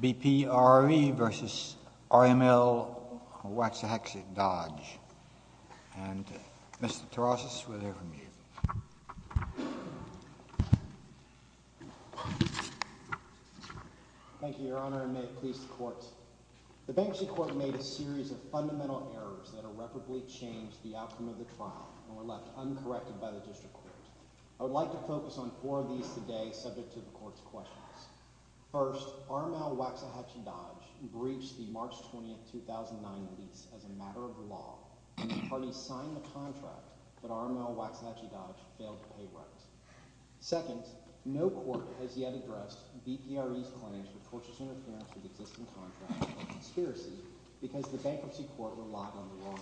B.P. RE, L.L.C. v. RML Waxahachie Dodge, L.L.C. And Mr. Tarasas, we'll hear from you. Thank you, Your Honor, and may it please the Court, The Banksy Court made a series of fundamental errors that irreparably changed the outcome of the trial and were left uncorrected by the District Court. I would like to focus on four of these today subject to the Court's questions. First, RML Waxahachie Dodge breached the March 20, 2009 lease as a matter of law and the parties signed the contract, but RML Waxahachie Dodge failed to pay rent. Second, no court has yet addressed B.P. RE's claims of torturous interference with existing contracts or conspiracy because the Banksy Court relied on the wrong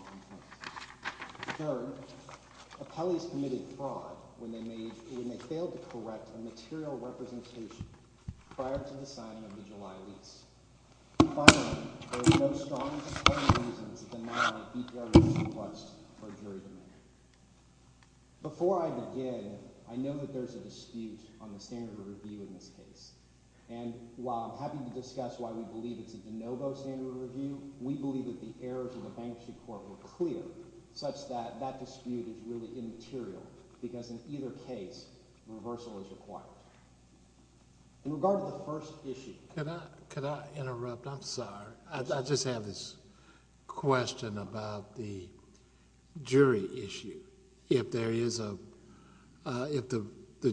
information. Third, appellees committed fraud when they failed to correct a material representation prior to the signing of the July lease. Finally, there are no strong suspending reasons to deny B.P. RE's request for jury demand. Before I begin, I know that there is a dispute on the standard of review in this case. And while I'm happy to discuss why we believe it's a de novo standard of review, we believe that the errors of the Banksy Court were clear such that that dispute is really immaterial because in either case, reversal is required. In regard to the first issue... Could I interrupt? I'm sorry. I just have this question about the jury issue. If there is a... if the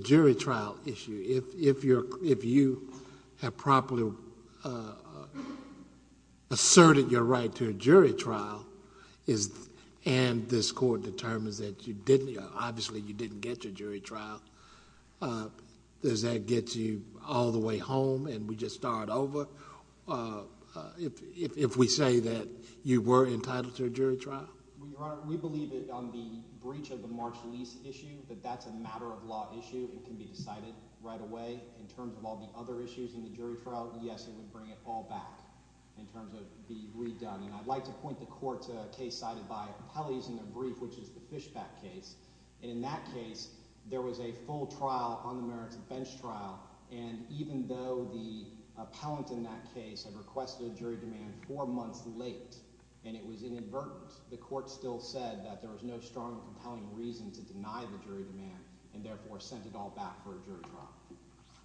jury trial issue, if you have properly asserted your right to a jury trial and this court determines that you didn't, obviously you didn't get your jury trial, does that get you all the way home and we just start over if we say that you were entitled to a jury trial? We believe that on the breach of the March lease issue that that's a matter of law issue. It can be decided right away. In terms of all the other issues in the jury trial, yes, it would bring it all back in terms of being redone. And I'd like to point the court to a case cited by Appellees in their brief, which is the Fishback case. And in that case, there was a full trial on the merits of bench trial. And even though the appellant in that case had requested a jury demand four months late and it was inadvertent, the court still said that there was no strong compelling reason to deny the jury demand and therefore sent it all back for a jury trial.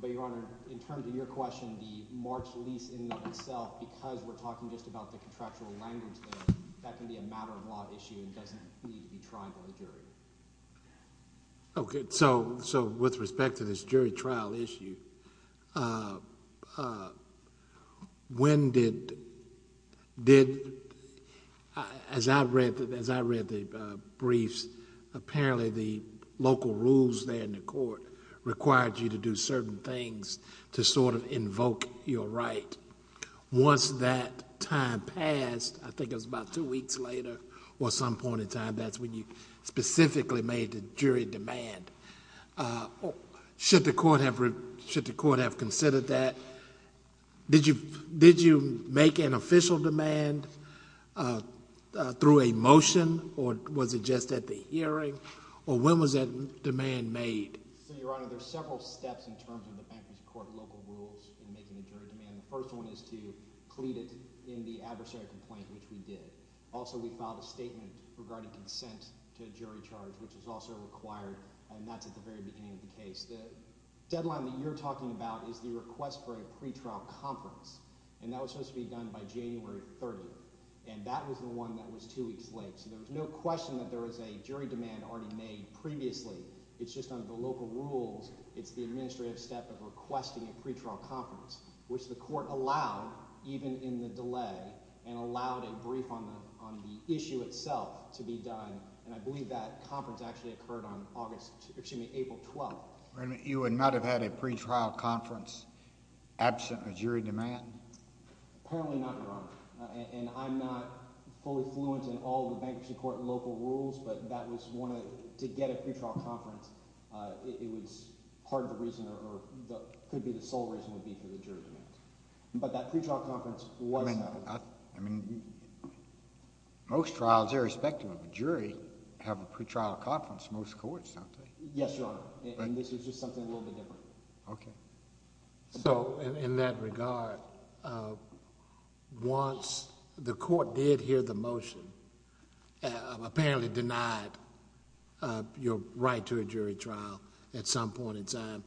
But, Your Honor, in terms of your question, the March lease in and of itself, because we're talking just about the contractual language there, that can be a matter of law issue and doesn't need to be tried by the jury. Okay. So with respect to this jury trial issue, as I read the briefs, apparently the local rules there in the court required you to do certain things to sort of invoke your right. Once that time passed, I think it was about two weeks later or some point in time, that's when you specifically made the jury demand. Should the court have considered that? Did you make an official demand through a motion or was it just at the hearing? Or when was that demand made? So, Your Honor, there are several steps in terms of the fact that the court local rules in making the jury demand. The first one is to plead it in the adversary complaint, which we did. Also, we filed a statement regarding consent to jury charge, which was also required, and that's at the very beginning of the case. The deadline that you're talking about is the request for a pretrial conference, and that was supposed to be done by January 30th, and that was the one that was two weeks late. So there was no question that there was a jury demand already made previously. It's just under the local rules. It's the administrative step of requesting a pretrial conference, which the court allowed even in the delay and allowed a brief on the issue itself to be done, and I believe that conference actually occurred on April 12th. You would not have had a pretrial conference absent a jury demand? Apparently not, Your Honor, and I'm not fully fluent in all the bankruptcy court local rules, but that was one of the—to get a pretrial conference, it was part of the reason or could be the sole reason would be for the jury demands. But that pretrial conference was held. I mean, most trials, irrespective of jury, have a pretrial conference. Most courts don't. Yes, Your Honor, and this was just something a little bit different. Okay. So in that regard, once the court did hear the motion, apparently denied your right to a jury trial at some point in time,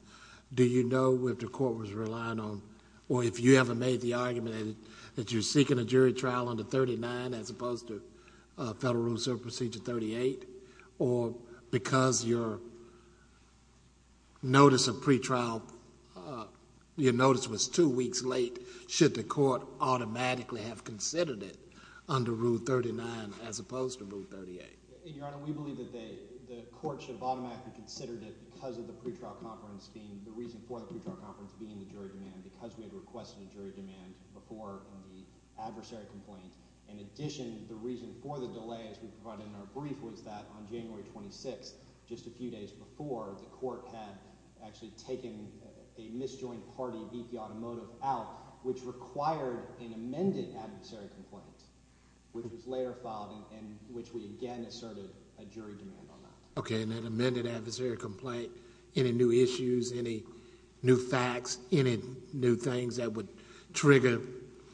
do you know if the court was relying on, or if you ever made the argument that you're seeking a jury trial under 39 as opposed to Federal Rules of Procedure 38, or because your notice of pretrial—your notice was two weeks late, should the court automatically have considered it under Rule 39 as opposed to Rule 38? Your Honor, we believe that the court should have automatically considered it because of the pretrial conference being—the reason for the pretrial conference being the jury demand, because we had requested a jury demand before the adversary complaint. In addition, the reason for the delay, as we provided in our brief, was that on January 26th, just a few days before, the court had actually taken a misjoined party, BP Automotive, out, which required an amended adversary complaint, which was later filed, and which we again asserted a jury demand on that. Okay, and that amended adversary complaint, any new issues, any new facts, any new things that would trigger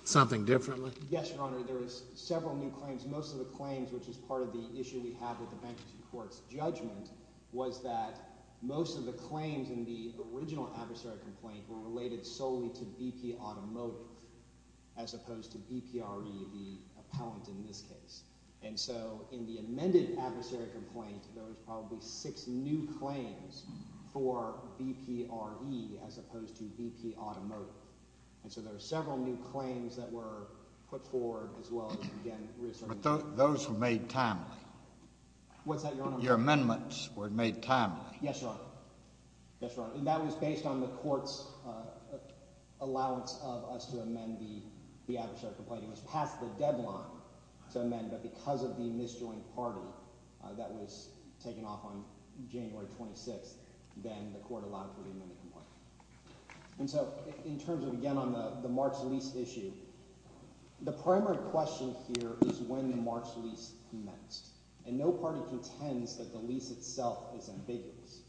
something differently? Yes, Your Honor. There is several new claims. Most of the claims, which is part of the issue we have with the bankruptcy court's judgment, was that most of the claims in the original adversary complaint were related solely to BP Automotive as opposed to BPRE, the appellant in this case. And so in the amended adversary complaint, there was probably six new claims for BPRE as opposed to BP Automotive. And so there were several new claims that were put forward as well as, again, reasserting— But those were made timely. What's that, Your Honor? Your amendments were made timely. Yes, Your Honor. Yes, Your Honor. And that was based on the court's allowance of us to amend the adversary complaint. It was past the deadline to amend, but because of the misjoined party that was taken off on January 26th, then the court allowed for the amended complaint. And so in terms of, again, on the March lease issue, the primary question here is when the March lease commenced. And no party contends that the lease itself is ambiguous.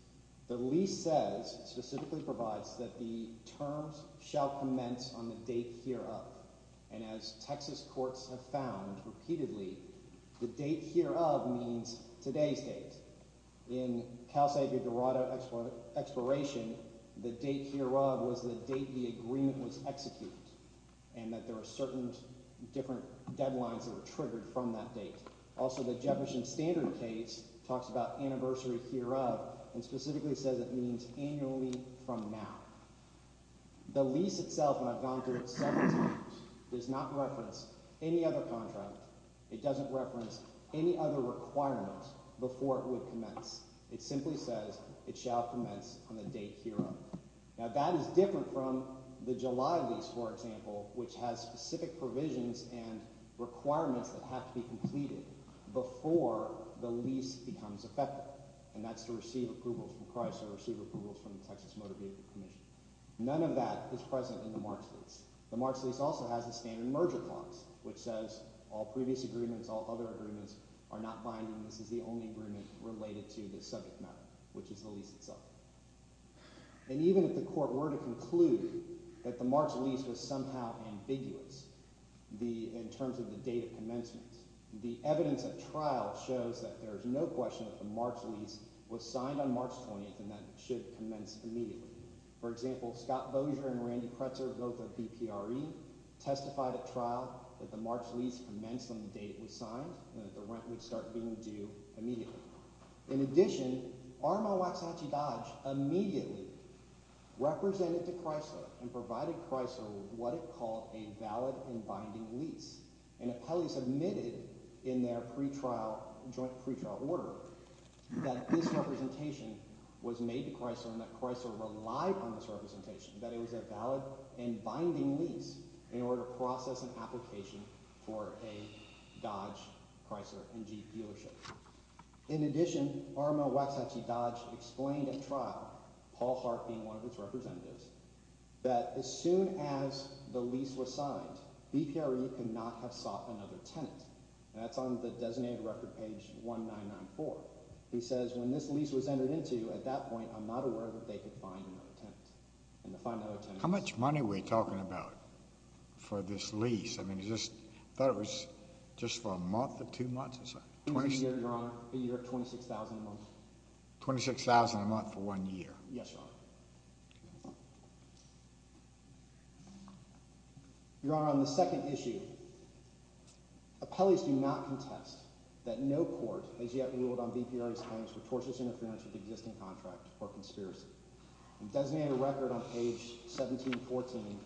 The lease says, specifically provides, that the terms shall commence on the date hereof. And as Texas courts have found repeatedly, the date hereof means today's date. In Cal State, the Dorado expiration, the date hereof was the date the agreement was executed, and that there were certain different deadlines that were triggered from that date. Also, the Jefferson Standard case talks about anniversary hereof and specifically says it means annually from now. The lease itself, and I've gone through it several times, does not reference any other contract. It doesn't reference any other requirement before it would commence. It simply says it shall commence on the date hereof. Now that is different from the July lease, for example, which has specific provisions and requirements that have to be completed before the lease becomes effective, and that's to receive approvals from Chrysler or receive approvals from the Texas Motor Vehicle Commission. None of that is present in the March lease. The March lease also has a standard merger clause, which says all previous agreements, all other agreements, are not binding. This is the only agreement related to this subject matter, which is the lease itself. And even if the court were to conclude that the March lease was somehow ambiguous in terms of the date of commencement, the evidence of trial shows that there is no question that the March lease was signed on March 20th and that it should commence immediately. For example, Scott Bosier and Randy Kretzer, both of BPRE, testified at trial that the March lease commenced on the date it was signed and that the rent would start being due immediately. In addition, RMO Aksachi Dodge immediately represented to Chrysler and provided Chrysler with what it called a valid and binding lease. And appellees admitted in their joint pretrial order that this representation was made to Chrysler and that Chrysler relied on this representation, that it was a valid and binding lease in order to process an application for a Dodge Chrysler and Jeep dealership. In addition, RMO Aksachi Dodge explained at trial, Paul Hart being one of its representatives, that as soon as the lease was signed, BPRE could not have sought another tenant. And that's on the designated record page 1994. He says when this lease was entered into, at that point, I'm not aware that they could find another tenant. How much money were you talking about for this lease? I mean, I thought it was just for a month or two months. 26,000 a month. 26,000 a month for one year? Yes, Your Honor. Your Honor, on the second issue, appellees do not contest that no court has yet ruled on BPRE's claims for tortious interference with the existing contract or conspiracy. On designated record on page 1714,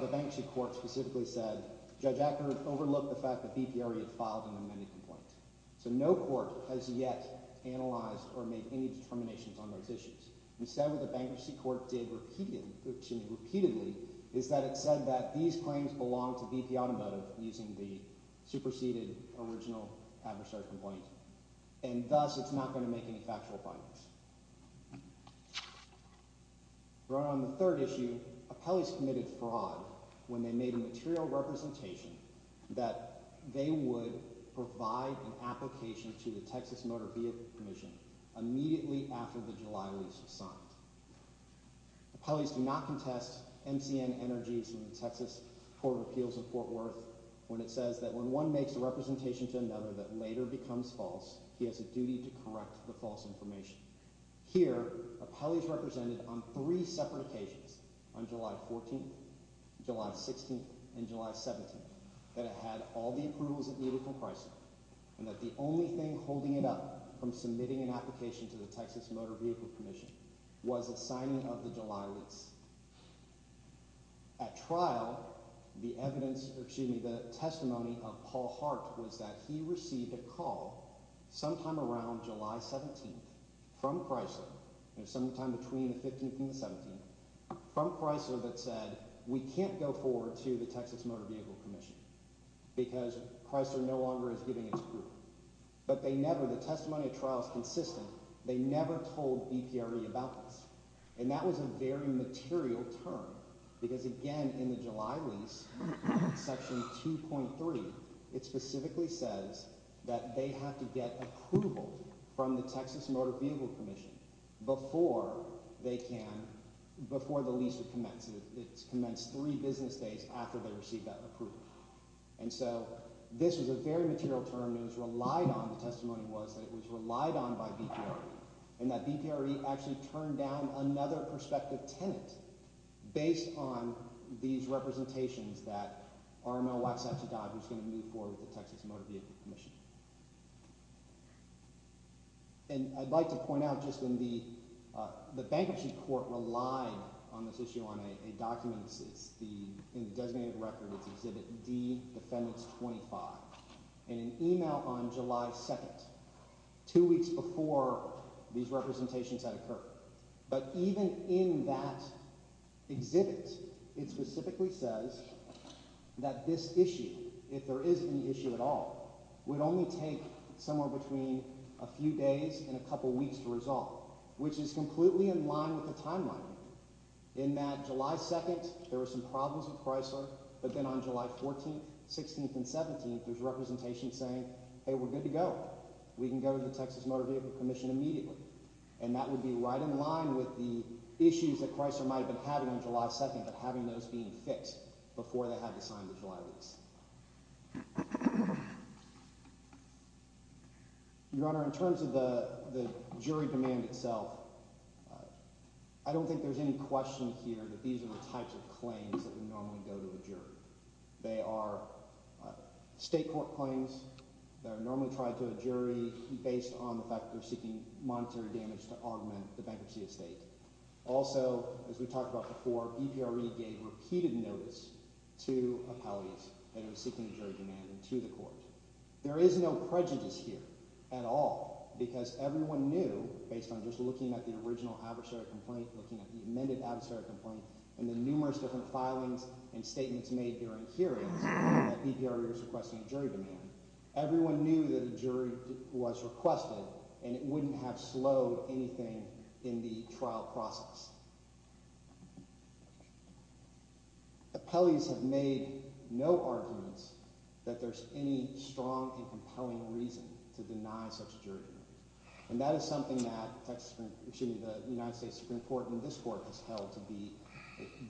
the bank sheet court specifically said, Judge Acknard overlooked the fact that BPRE had filed an amended complaint. So no court has yet analyzed or made any determinations on those issues. Instead, what the bankruptcy court did repeatedly is that it said that these claims belong to BP Automotive using the superseded original adversary complaint. And thus, it's not going to make any factual findings. Your Honor, on the third issue, appellees committed fraud when they made a material representation that they would provide an application to the Texas Motor Vehicle Commission immediately after the July lease was signed. Appellees do not contest MCN Energy's Texas Court of Appeals in Fort Worth when it says that when one makes a representation to another that later becomes false, he has a duty to correct the false information. Here, appellees represented on three separate occasions, on July 14th, July 16th, and July 17th, that it had all the approvals it needed from Chrysler and that the only thing holding it up from submitting an application to the Texas Motor Vehicle Commission was a signing of the July lease. At trial, the evidence – excuse me – the testimony of Paul Hart was that he received a call sometime around July 17th from Chrysler sometime between the 15th and the 17th from Chrysler that said, we can't go forward to the Texas Motor Vehicle Commission because Chrysler no longer is giving its approval. But they never – the testimony at trial is consistent. They never told BPRE about this. And that was a very material term because, again, in the July lease, section 2.3, it specifically says that they have to get approval from the Texas Motor Vehicle Commission before they can – before the lease would commence. It's commenced three business days after they received that approval. And so this was a very material term that was relied on. The testimony was that it was relied on by BPRE and that BPRE actually turned down another prospective tenant based on these representations that RML Waxhatchee Dodd was going to move forward with the Texas Motor Vehicle Commission. And I'd like to point out just in the – the bankruptcy court relied on this issue on a document. It's the – in the designated record, it's Exhibit D, Defendants 25, in an email on July 2nd, two weeks before these representations had occurred. But even in that exhibit, it specifically says that this issue, if there is any issue at all, would only take somewhere between a few days and a couple weeks to resolve, which is completely in line with the timeline. In that July 2nd, there were some problems with Chrysler, but then on July 14th, 16th, and 17th, there's representation saying, hey, we're good to go. We can go to the Texas Motor Vehicle Commission immediately. And that would be right in line with the issues that Chrysler might have been having on July 2nd, but having those being fixed before they had to sign the July release. Your Honor, in terms of the jury demand itself, I don't think there's any question here that these are the types of claims that would normally go to a jury. They are state court claims that are normally tried to a jury based on the fact that they're seeking monetary damage to augment the bankruptcy estate. Also, as we talked about before, EPRE gave repeated notice to appellees that are seeking a jury demand to the court. There is no prejudice here at all because everyone knew based on just looking at the original adversary complaint, looking at the amended adversary complaint, and the numerous different filings and statements made during hearings that EPRE was requesting a jury demand. Everyone knew that a jury was requested, and it wouldn't have slowed anything in the trial process. Appellees have made no arguments that there's any strong and compelling reason to deny such a jury demand. And that is something that the United States Supreme Court and this court has held to be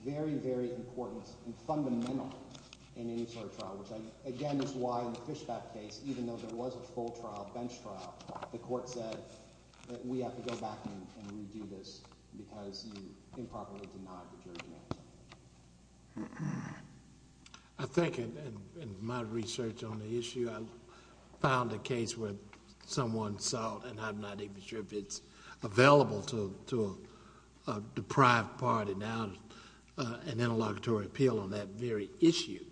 very, very important and fundamental in any sort of trial, which again is why in the Fishback case, even though there was a full trial, bench trial, the court said that we have to go back and redo this. Because you improperly denied the jury demand. I think in my research on the issue, I found a case where someone sought, and I'm not even sure if it's available to a deprived party now, an interlocutory appeal on that very issue.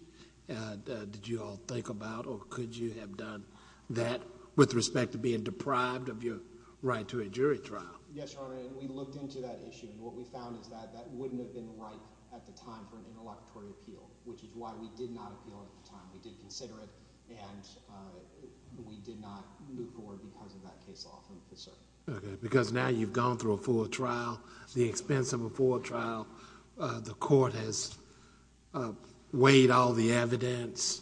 Did you all think about or could you have done that with respect to being deprived of your right to a jury trial? Yes, Your Honor, and we looked into that issue, and what we found is that that wouldn't have been right at the time for an interlocutory appeal, which is why we did not appeal at the time. We did consider it, and we did not move forward because of that case law from the circuit. Because now you've gone through a full trial, the expense of a full trial, the court has weighed all the evidence,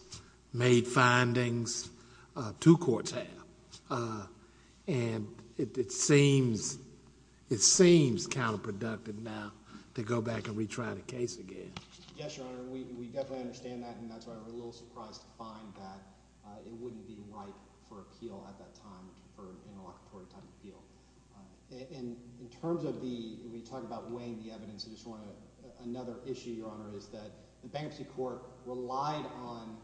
made findings, two courts have, and it seems counterproductive now to go back and retry the case again. Yes, Your Honor, we definitely understand that, and that's why we're a little surprised to find that it wouldn't be right for appeal at that time for an interlocutory type appeal. In terms of the, when you talk about weighing the evidence, I just want to, another issue, Your Honor, is that the Bankruptcy Court relied on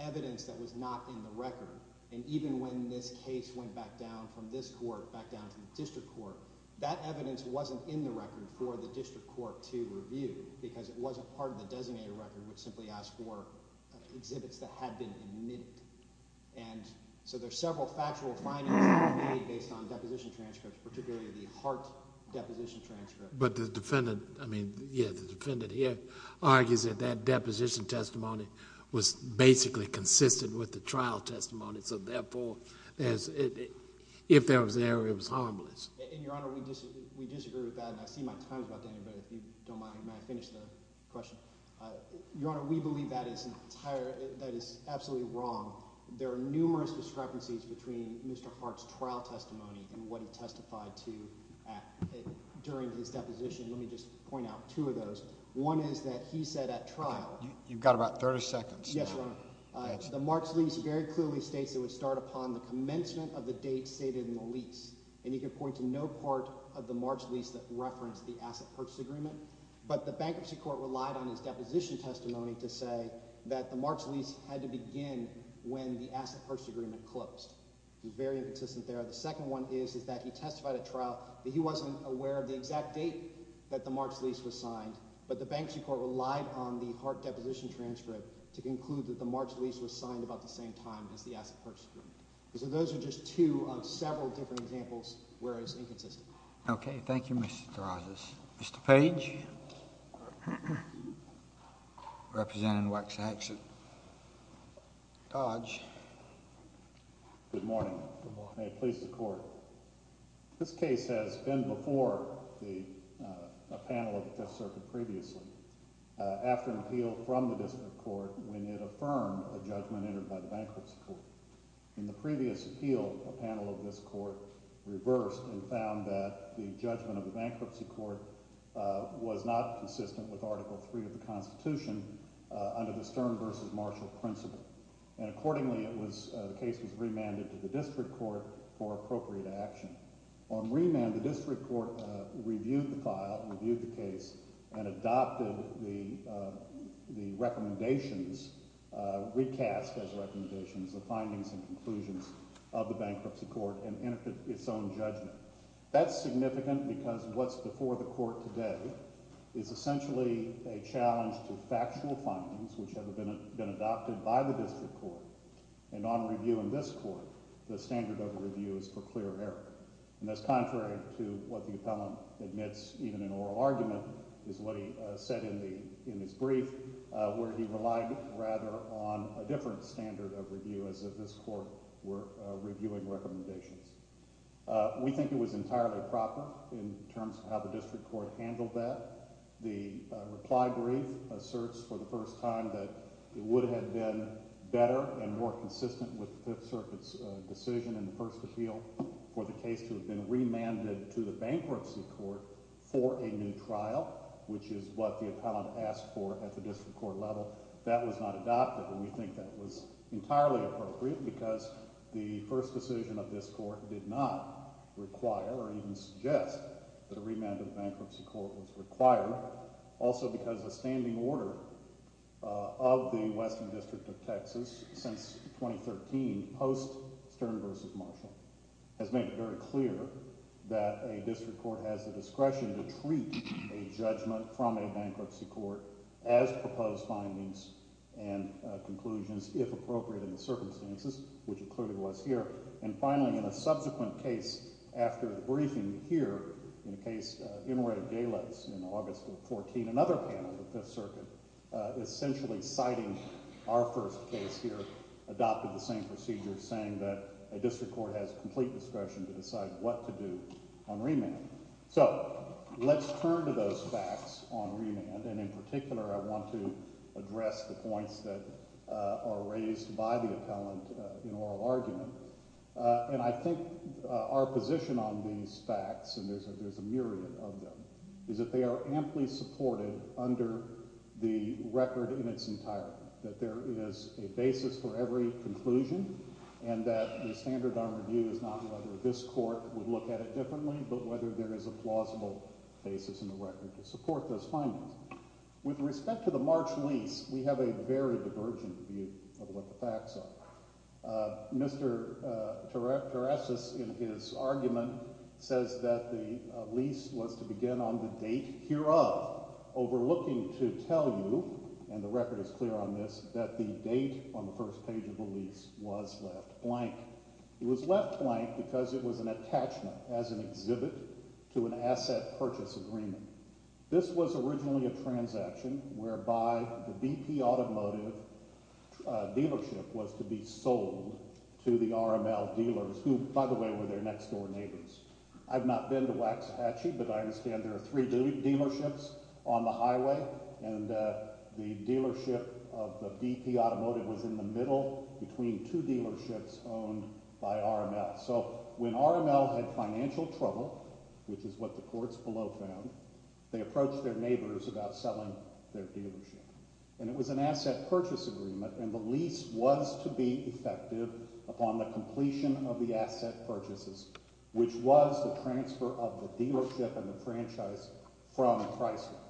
evidence that was not in the record. And even when this case went back down from this court, back down to the district court, that evidence wasn't in the record for the district court to review, because it wasn't part of the designated record, which simply asked for exhibits that had been admitted. And so there's several factual findings that were made based on deposition transcripts, particularly the Hart deposition transcript. But the defendant, I mean, yeah, the defendant here argues that that deposition testimony was basically consistent with the trial testimony, so therefore, if there was an error, it was harmless. And, Your Honor, we disagree with that, and I see my time is about to end, but if you don't mind, may I finish the question? Your Honor, we believe that is absolutely wrong. There are numerous discrepancies between Mr. Hart's trial testimony and what he testified to during his deposition. Let me just point out two of those. One is that he said at trial— You've got about 30 seconds. Yes, Your Honor. The March lease very clearly states it would start upon the commencement of the date stated in the lease. And he could point to no part of the March lease that referenced the asset purchase agreement. But the bankruptcy court relied on his deposition testimony to say that the March lease had to begin when the asset purchase agreement closed. He was very inconsistent there. The second one is that he testified at trial that he wasn't aware of the exact date that the March lease was signed. But the bankruptcy court relied on the Hart deposition transcript to conclude that the March lease was signed about the same time as the asset purchase agreement. So those are just two of several different examples where it's inconsistent. Okay. Thank you, Mr. DeRozas. Mr. Page representing Waxhacks. Dodge. Good morning. Good morning. May it please the Court. This case has been before a panel of the Fifth Circuit previously after an appeal from the district court when it affirmed a judgment entered by the bankruptcy court. In the previous appeal, a panel of this court reversed and found that the judgment of the bankruptcy court was not consistent with Article III of the Constitution under the Stern v. Marshall principle. And accordingly, the case was remanded to the district court for appropriate action. On remand, the district court reviewed the file, reviewed the case, and adopted the recommendations, recast as recommendations, the findings and conclusions of the bankruptcy court and entered its own judgment. That's significant because what's before the court today is essentially a challenge to factual findings which have been adopted by the district court. And on review in this court, the standard of review is for clear error. And that's contrary to what the appellant admits even in oral argument is what he said in his brief where he relied rather on a different standard of review as if this court were reviewing recommendations. We think it was entirely proper in terms of how the district court handled that. The reply brief asserts for the first time that it would have been better and more consistent with the Fifth Circuit's decision in the first appeal for the case to have been remanded to the bankruptcy court for a new trial, which is what the appellant asked for at the district court level. That was not adopted, and we think that was entirely appropriate because the first decision of this court did not require or even suggest that a remand to the bankruptcy court was required. Also because the standing order of the Western District of Texas since 2013, post Stern v. Marshall, has made it very clear that a district court has the discretion to treat a judgment from a bankruptcy court as proposed findings and conclusions, if appropriate in the circumstances, which it clearly was here. And finally, in a subsequent case after the briefing here, in the case Inouye v. Galas in August of 2014, another panel of the Fifth Circuit essentially citing our first case here adopted the same procedure, saying that a district court has complete discretion to decide what to do on remanding. So let's turn to those facts on remand, and in particular I want to address the points that are raised by the appellant in oral argument. And I think our position on these facts, and there's a myriad of them, is that they are amply supported under the record in its entirety, that there is a basis for every conclusion, and that the standard of our view is not whether this court would look at it differently, but whether there is a plausible basis in the record to support those findings. With respect to the March lease, we have a very divergent view of what the facts are. Mr. Tiresias, in his argument, says that the lease was to begin on the date hereof, overlooking to tell you, and the record is clear on this, that the date on the first page of the lease was left blank. It was left blank because it was an attachment as an exhibit to an asset purchase agreement. This was originally a transaction whereby the BP Automotive dealership was to be sold to the RML dealers, who, by the way, were their next door neighbors. I've not been to Waxhatchee, but I understand there are three dealerships on the highway, and the dealership of the BP Automotive was in the middle between two dealerships owned by RML. When RML had financial trouble, which is what the courts below found, they approached their neighbors about selling their dealership. It was an asset purchase agreement, and the lease was to be effective upon the completion of the asset purchases, which was the transfer of the dealership and the franchise from Chrysler.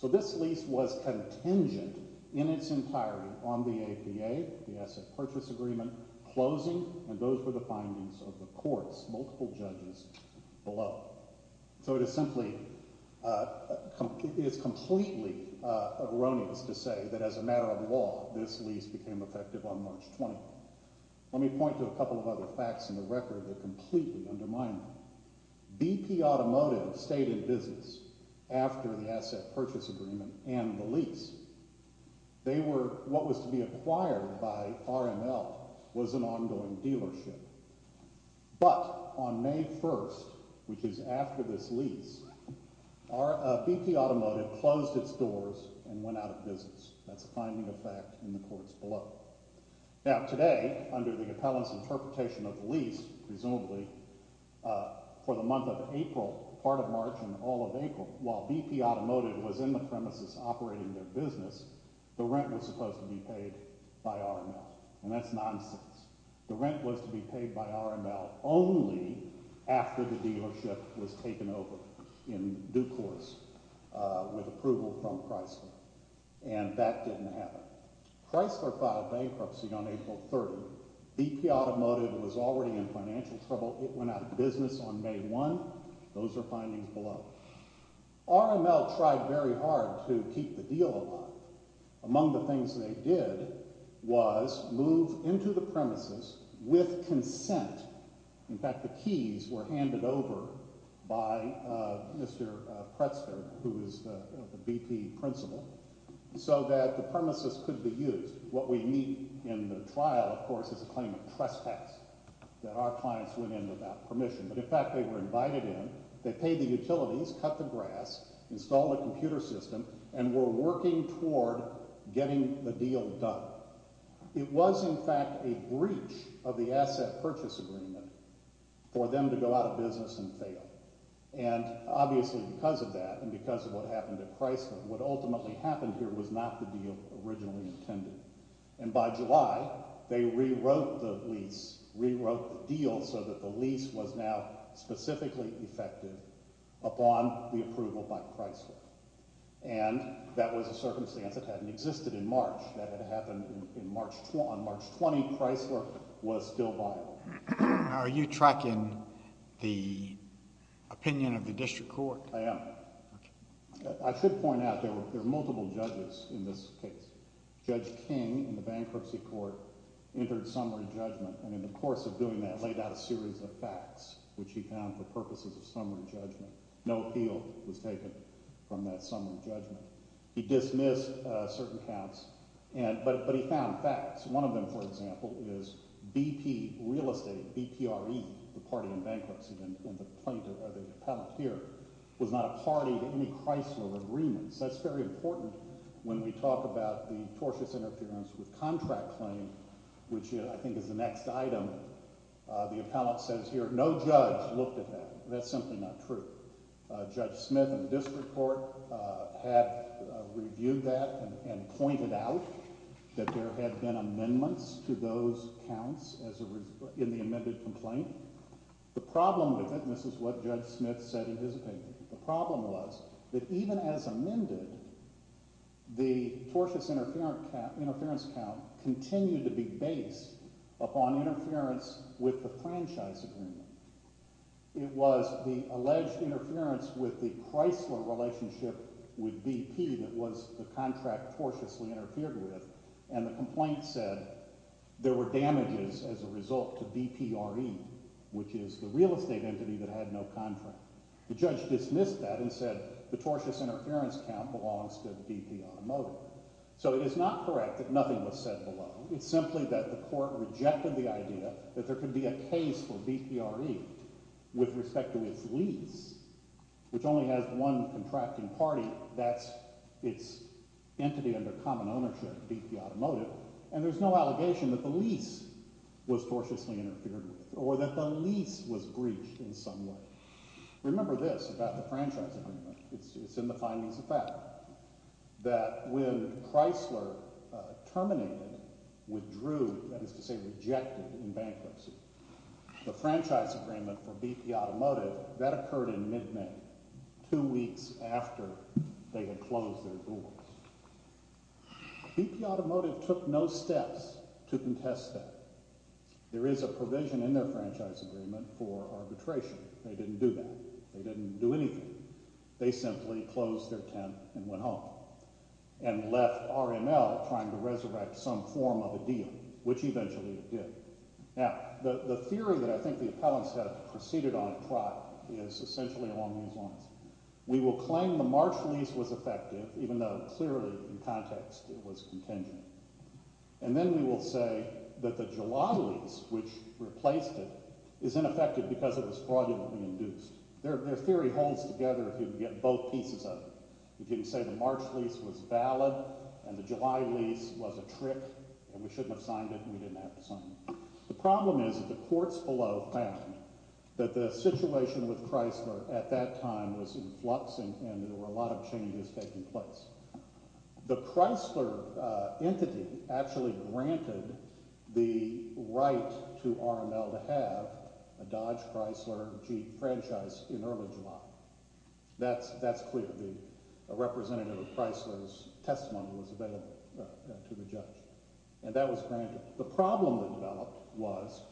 So this lease was contingent in its entirety on the APA, the asset purchase agreement, closing, and those were the findings of the courts, multiple judges below. So it is simply – it is completely erroneous to say that as a matter of law, this lease became effective on March 20th. Let me point to a couple of other facts in the record that completely undermine that. BP Automotive stayed in business after the asset purchase agreement and the lease. They were – what was to be acquired by RML was an ongoing dealership. But on May 1st, which is after this lease, BP Automotive closed its doors and went out of business. That's a finding of fact in the courts below. Now today, under the appellant's interpretation of the lease, presumably for the month of April, part of March and all of April, while BP Automotive was in the premises operating their business, the rent was supposed to be paid by RML. And that's nonsense. The rent was to be paid by RML only after the dealership was taken over in due course with approval from Chrysler, and that didn't happen. Chrysler filed bankruptcy on April 30th. BP Automotive was already in financial trouble. It went out of business on May 1st. Those are findings below. RML tried very hard to keep the deal alive. Among the things they did was move into the premises with consent. In fact, the keys were handed over by Mr. Pretzer, who is the BP principal, so that the premises could be used. What we meet in the trial, of course, is a claim of trespass that our clients went in without permission. But in fact they were invited in, they paid the utilities, cut the grass, installed a computer system, and were working toward getting the deal done. It was, in fact, a breach of the asset purchase agreement for them to go out of business and fail. And obviously because of that and because of what happened at Chrysler, what ultimately happened here was not the deal originally intended. And by July, they rewrote the lease, rewrote the deal so that the lease was now specifically effective upon the approval by Chrysler. And that was a circumstance that hadn't existed in March. That had happened on March 20. Chrysler was still viable. Are you tracking the opinion of the district court? I am. I should point out there are multiple judges in this case. Judge King, in the bankruptcy court, entered summary judgment, and in the course of doing that laid out a series of facts, which he found for purposes of summary judgment. No appeal was taken from that summary judgment. He dismissed certain counts, but he found facts. One of them, for example, is BP Real Estate, BPRE, the party in bankruptcy and the plaintiff or the appellate here, was not a party to any Chrysler agreements. That's very important when we talk about the tortious interference with contract claim, which I think is the next item. The appellate says here no judge looked at that. That's simply not true. Judge Smith and the district court have reviewed that and pointed out that there had been amendments to those counts in the amended complaint. The problem with it, and this is what Judge Smith said in his opinion. The problem was that even as amended, the tortious interference count continued to be based upon interference with the franchise agreement. It was the alleged interference with the Chrysler relationship with BP that was the contract tortiously interfered with, and the complaint said there were damages as a result to BPRE, which is the real estate entity that had no contract. The judge dismissed that and said the tortious interference count belongs to BP Automotive. So it is not correct that nothing was said below. It's simply that the court rejected the idea that there could be a case for BPRE with respect to its lease, which only has one contracting party. That's its entity under common ownership, BP Automotive, and there's no allegation that the lease was tortiously interfered with or that the lease was breached in some way. Remember this about the franchise agreement. It's in the findings of fact that when Chrysler terminated, withdrew, that is to say rejected in bankruptcy, the franchise agreement for BP Automotive, that occurred in mid-May, two weeks after they had closed their doors. BP Automotive took no steps to contest that. There is a provision in their franchise agreement for arbitration. They didn't do that. They didn't do anything. They simply closed their tent and went home and left RML trying to resurrect some form of a deal, which eventually it did. Now, the theory that I think the appellants have proceeded on a trot is essentially along those lines. We will claim the March lease was effective, even though clearly in context it was contingent. And then we will say that the July lease, which replaced it, is ineffective because it was fraudulently induced. Their theory holds together if you get both pieces of it. You can say the March lease was valid and the July lease was a trick and we shouldn't have signed it and we didn't have to sign it. The problem is that the courts below found that the situation with Chrysler at that time was in flux and there were a lot of changes taking place. The Chrysler entity actually granted the right to RML to have a Dodge Chrysler Jeep franchise in early July. That's clear. The representative of Chrysler's testimony was available to the judge, and that was granted. The problem that developed was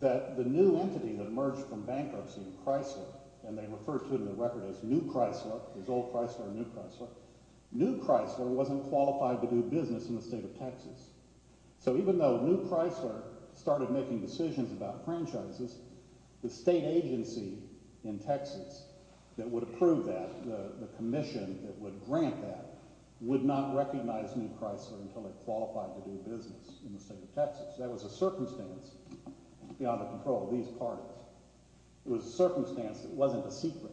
that the new entity that emerged from bankruptcy in Chrysler, and they referred to it in the record as new Chrysler, as old Chrysler or new Chrysler, new Chrysler wasn't qualified to do business in the state of Texas. So even though new Chrysler started making decisions about franchises, the state agency in Texas that would approve that, the commission that would grant that, would not recognize new Chrysler until it qualified to do business in the state of Texas. That was a circumstance beyond the control of these parties. It was a circumstance that wasn't a secret.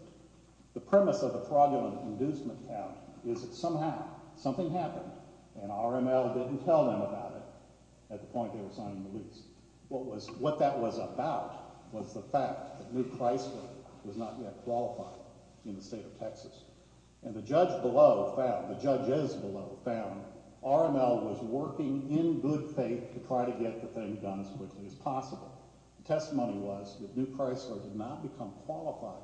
The premise of the fraudulent inducement count is that somehow something happened and RML didn't tell them about it at the point they were signing the lease. What that was about was the fact that new Chrysler was not yet qualified in the state of Texas. And the judge below found, the judges below found, RML was working in good faith to try to get the thing done as quickly as possible. The testimony was that new Chrysler did not become qualified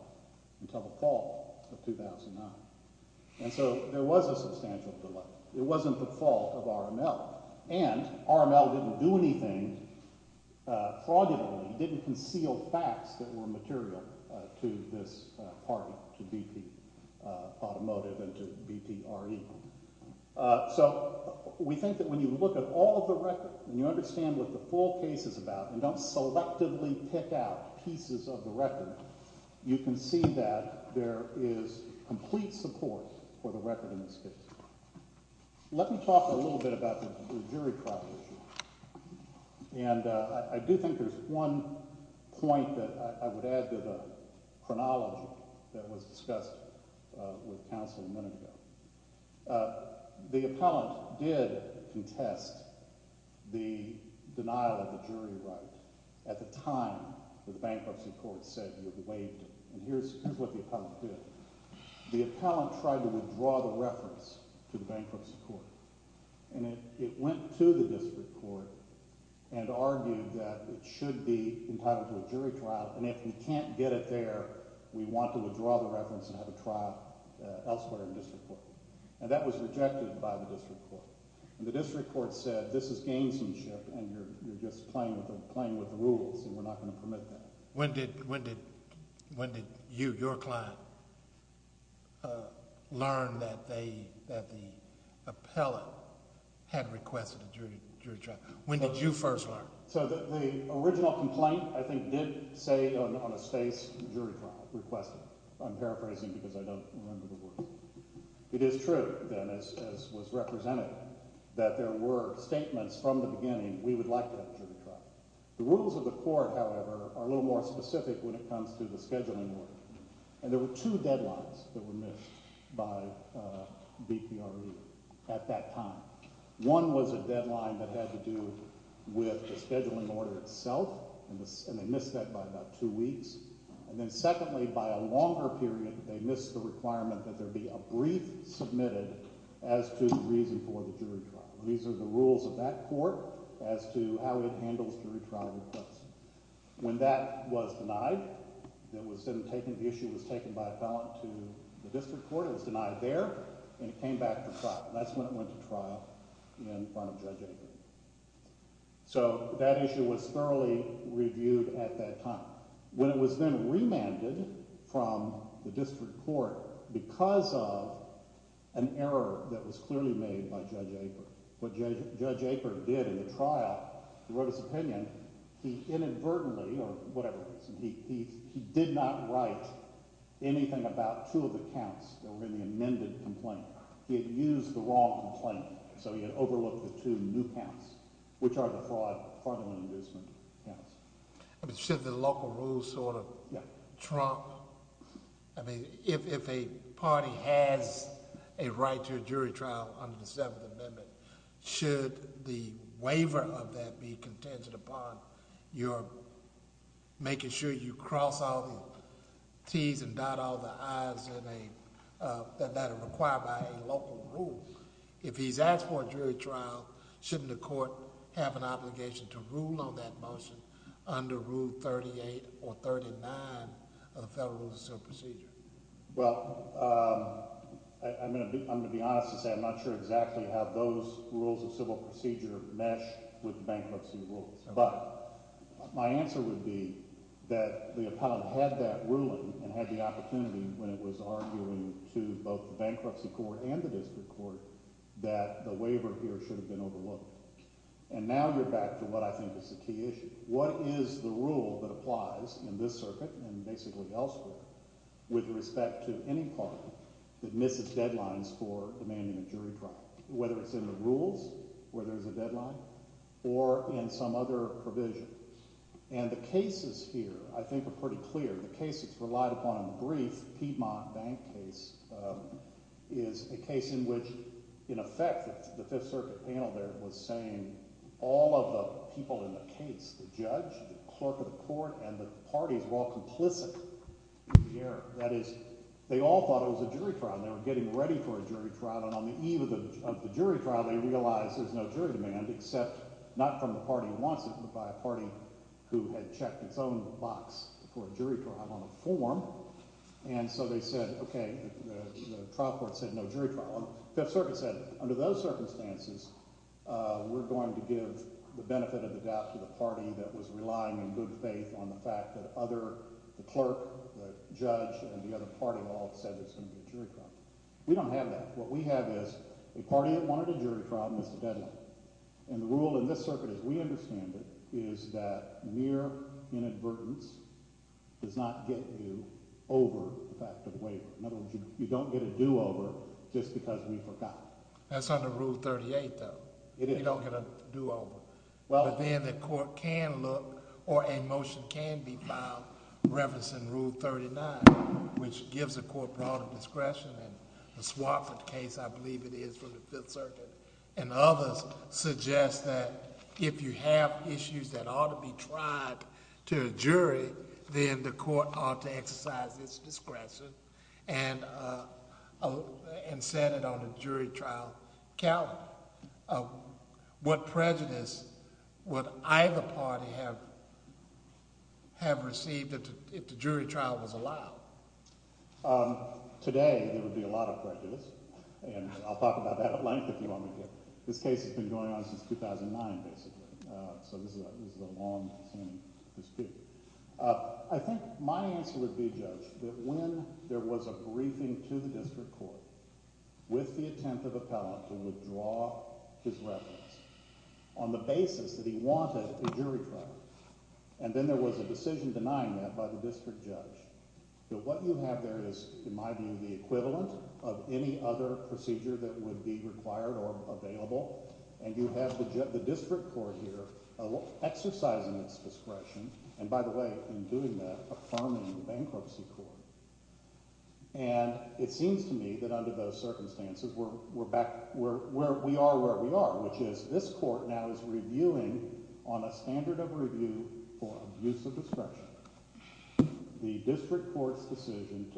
until the fall of 2009. And so there was a substantial delay. It wasn't the fault of RML. And RML didn't do anything fraudulently, didn't conceal facts that were material to this party, to BP Automotive and to BP RE. So we think that when you look at all of the records and you understand what the full case is about and don't selectively pick out pieces of the record, you can see that there is complete support for the record in this case. Let me talk a little bit about the jury trial issue. And I do think there's one point that I would add to the chronology that was discussed with counsel a minute ago. The appellant did contest the denial of the jury right at the time the bankruptcy court said you'd waived it. And here's what the appellant did. The appellant tried to withdraw the reference to the bankruptcy court. And it went to the district court and argued that it should be entitled to a jury trial. And if we can't get it there, we want to withdraw the reference and have a trial elsewhere in the district court. And that was rejected by the district court. And the district court said this is gamesmanship and you're just playing with the rules and we're not going to permit that. When did you, your client, learn that the appellant had requested a jury trial? When did you first learn? So the original complaint, I think, did say on a space jury trial requested. I'm paraphrasing because I don't remember the word. It is true, then, as was represented, that there were statements from the beginning we would like to have a jury trial. The rules of the court, however, are a little more specific when it comes to the scheduling order. And there were two deadlines that were missed by BPRE at that time. One was a deadline that had to do with the scheduling order itself, and they missed that by about two weeks. And then secondly, by a longer period, they missed the requirement that there be a brief submitted as to the reason for the jury trial. These are the rules of that court as to how it handles jury trial requests. When that was denied, the issue was taken by appellant to the district court. It was denied there, and it came back to trial. That's when it went to trial in front of Judge Aper. So that issue was thoroughly reviewed at that time. When it was then remanded from the district court because of an error that was clearly made by Judge Aper, what Judge Aper did in the trial, he wrote his opinion. He inadvertently, or whatever it was, he did not write anything about two of the counts that were in the amended complaint. He had used the wrong complaint, so he had overlooked the two new counts, which are the fraud, fraudulent inducement counts. I mean, should the local rules sort of trump? I mean, if a party has a right to a jury trial under the Seventh Amendment, should the waiver of that be contingent upon your making sure you cross all the T's and dot all the I's that are required by a local rule? If he's asked for a jury trial, shouldn't the court have an obligation to rule on that motion under Rule 38 or 39 of the Federal Rules of Civil Procedure? Well, I'm going to be honest and say I'm not sure exactly how those rules of civil procedure mesh with bankruptcy rules. But my answer would be that the appellant had that ruling and had the opportunity when it was arguing to both the bankruptcy court and the district court that the waiver here should have been overlooked. And now you're back to what I think is the key issue. What is the rule that applies in this circuit and basically elsewhere with respect to any claim that misses deadlines for demanding a jury trial, whether it's in the rules where there's a deadline or in some other provision? And the cases here I think are pretty clear. The case that's relied upon in the brief, the Piedmont Bank case, is a case in which, in effect, the Fifth Circuit panel there was saying all of the people in the case, the judge, the clerk of the court, and the parties were all complicit in the error. That is, they all thought it was a jury trial. They were getting ready for a jury trial. And on the eve of the jury trial, they realized there's no jury demand except not from the party who wants it but by a party who had checked its own box for a jury trial on a form. And so they said, okay, the trial court said no jury trial. The Fifth Circuit said, under those circumstances, we're going to give the benefit of the doubt to the party that was relying in good faith on the fact that the clerk, the judge, and the other party all said it's going to be a jury trial. We don't have that. What we have is a party that wanted a jury trial and missed a deadline. And the rule in this circuit, as we understand it, is that mere inadvertence does not get you over the fact of waiver. In other words, you don't get a do-over just because we forgot. That's under Rule 38, though. It is. You don't get a do-over. But then the court can look or a motion can be filed referencing Rule 39, which gives the court broader discretion. And the Swartford case, I believe it is, for the Fifth Circuit and others, suggests that if you have issues that ought to be tried to a jury, then the court ought to exercise its discretion and set it on a jury trial calendar. What prejudice would either party have received if the jury trial was allowed? Today, there would be a lot of prejudice. And I'll talk about that at length if you want me to. This case has been going on since 2009, basically. So this is a longstanding dispute. I think my answer would be, Judge, that when there was a briefing to the district court with the attempt of appellant to withdraw his reference on the basis that he wanted a jury trial, and then there was a decision denying that by the district judge, that what you have there is, in my view, the equivalent of any other procedure that would be required or available. And you have the district court here exercising its discretion, and by the way, in doing that, affirming the bankruptcy court. And it seems to me that under those circumstances, we're back – we are where we are, which is this court now is reviewing on a standard of review for abuse of discretion the district court's decision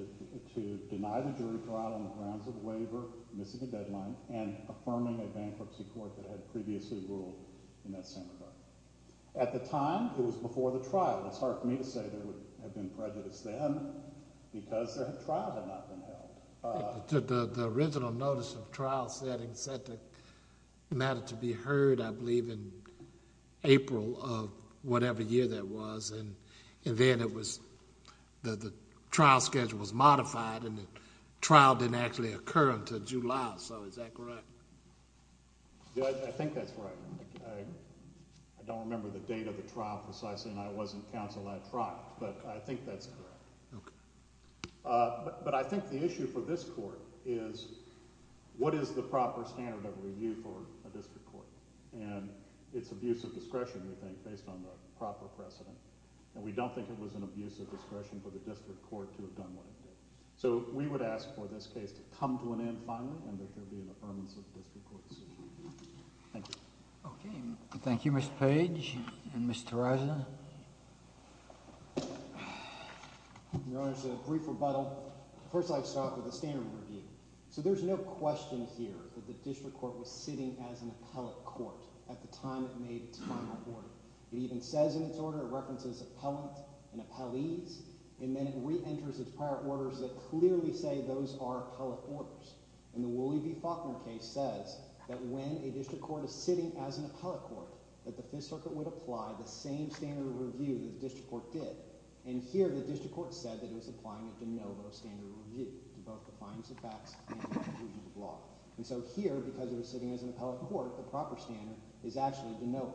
to deny the jury trial on the grounds of a waiver, missing a deadline, and affirming a bankruptcy court that had previously ruled in that same regard. At the time, it was before the trial. It's hard for me to say there would have been prejudice then, because the trial had not been held. The original notice of trial setting said that it mattered to be heard, I believe, in April of whatever year that was. And then it was – the trial schedule was modified, and the trial didn't actually occur until July. So is that correct? I think that's right. I don't remember the date of the trial precisely, and I wasn't counsel at trial, but I think that's correct. Okay. But I think the issue for this court is what is the proper standard of review for a district court? And it's abuse of discretion, we think, based on the proper precedent, and we don't think it was an abuse of discretion for the district court to have done what it did. So we would ask for this case to come to an end finally and that there be an affirmance of the district court's decision. Thank you. Okay. Thank you, Mr. Page and Ms. Terraza. Your Honors, a brief rebuttal. First, I'd like to start with the standard of review. So there's no question here that the district court was sitting as an appellate court at the time it made its final order. It even says in its order, it references appellant and appellees, and then it reenters its prior orders that clearly say those are appellate orders. And the Wooley v. Faulkner case says that when a district court is sitting as an appellate court, that the Fifth Circuit would apply the same standard of review that the district court did. And here, the district court said that it was applying a de novo standard of review to both the findings of facts and the conclusion of the law. And so here, because it was sitting as an appellate court, the proper standard is actually a de novo.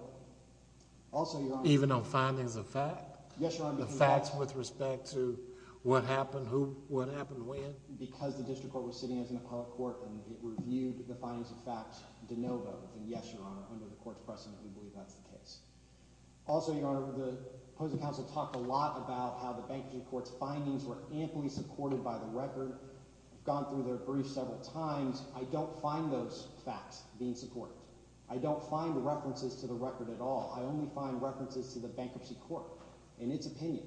Also, Your Honor— Even on findings of fact? Yes, Your Honor. The facts with respect to what happened who—what happened when? Because the district court was sitting as an appellate court and it reviewed the findings of facts de novo, then yes, Your Honor, under the court's precedent, we believe that's the case. Also, Your Honor, the opposing counsel talked a lot about how the bankruptcy court's findings were amply supported by the record. I've gone through their briefs several times. I don't find those facts being supported. I don't find references to the record at all. I only find references to the bankruptcy court and its opinion.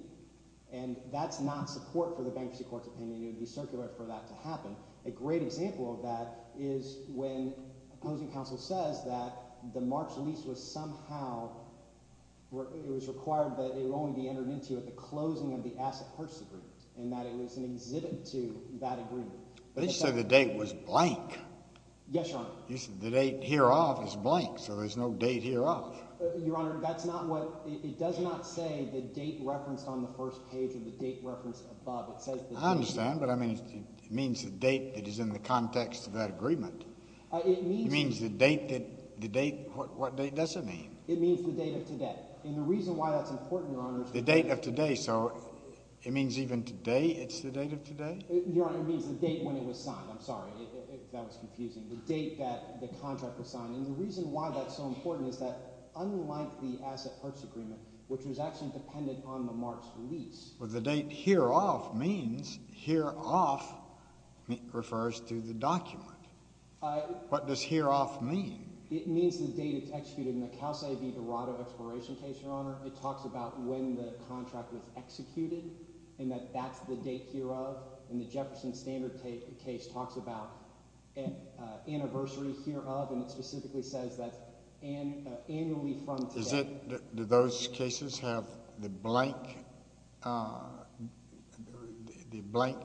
And that's not support for the bankruptcy court's opinion. It would be circular for that to happen. A great example of that is when opposing counsel says that the March lease was somehow—it was required that it only be entered into at the closing of the Asset Purchase Agreement and that it was an exhibit to that agreement. But didn't you say the date was blank? Yes, Your Honor. You said the date hereof is blank, so there's no date hereof. Your Honor, that's not what—it does not say the date referenced on the first page or the date referenced above. It says the date— I understand, but, I mean, it means the date that is in the context of that agreement. It means— It means the date that—the date—what date does it mean? It means the date of today. And the reason why that's important, Your Honor— The date of today. So it means even today it's the date of today? Your Honor, it means the date when it was signed. I'm sorry if that was confusing. The date that the contract was signed. And the reason why that's so important is that unlike the Asset Purchase Agreement, which was actually dependent on the mark's release— Well, the date hereof means—hereof refers to the document. What does hereof mean? It means the date it's executed. In the Cal State v. Dorado Exploration case, Your Honor, it talks about when the contract was executed and that that's the date hereof. And the Jefferson Standard case talks about anniversary hereof, and it specifically says that annually from today— Is it—do those cases have the blank—the blank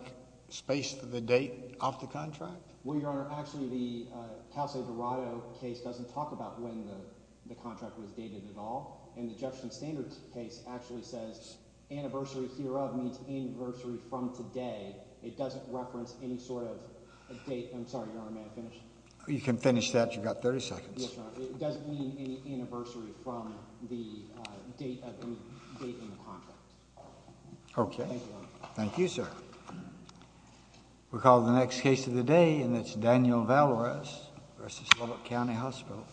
space for the date off the contract? Well, Your Honor, actually the Cal State v. Dorado case doesn't talk about when the contract was dated at all. And the Jefferson Standard case actually says anniversary hereof means anniversary from today. It doesn't reference any sort of date—I'm sorry, Your Honor, may I finish? You can finish that. You've got 30 seconds. Yes, Your Honor. It doesn't mean any anniversary from the date of any date in the contract. Okay. Thank you, Your Honor. Thank you, sir. We'll call the next case of the day, and it's Daniel Valores v. Lubbock County Hospital.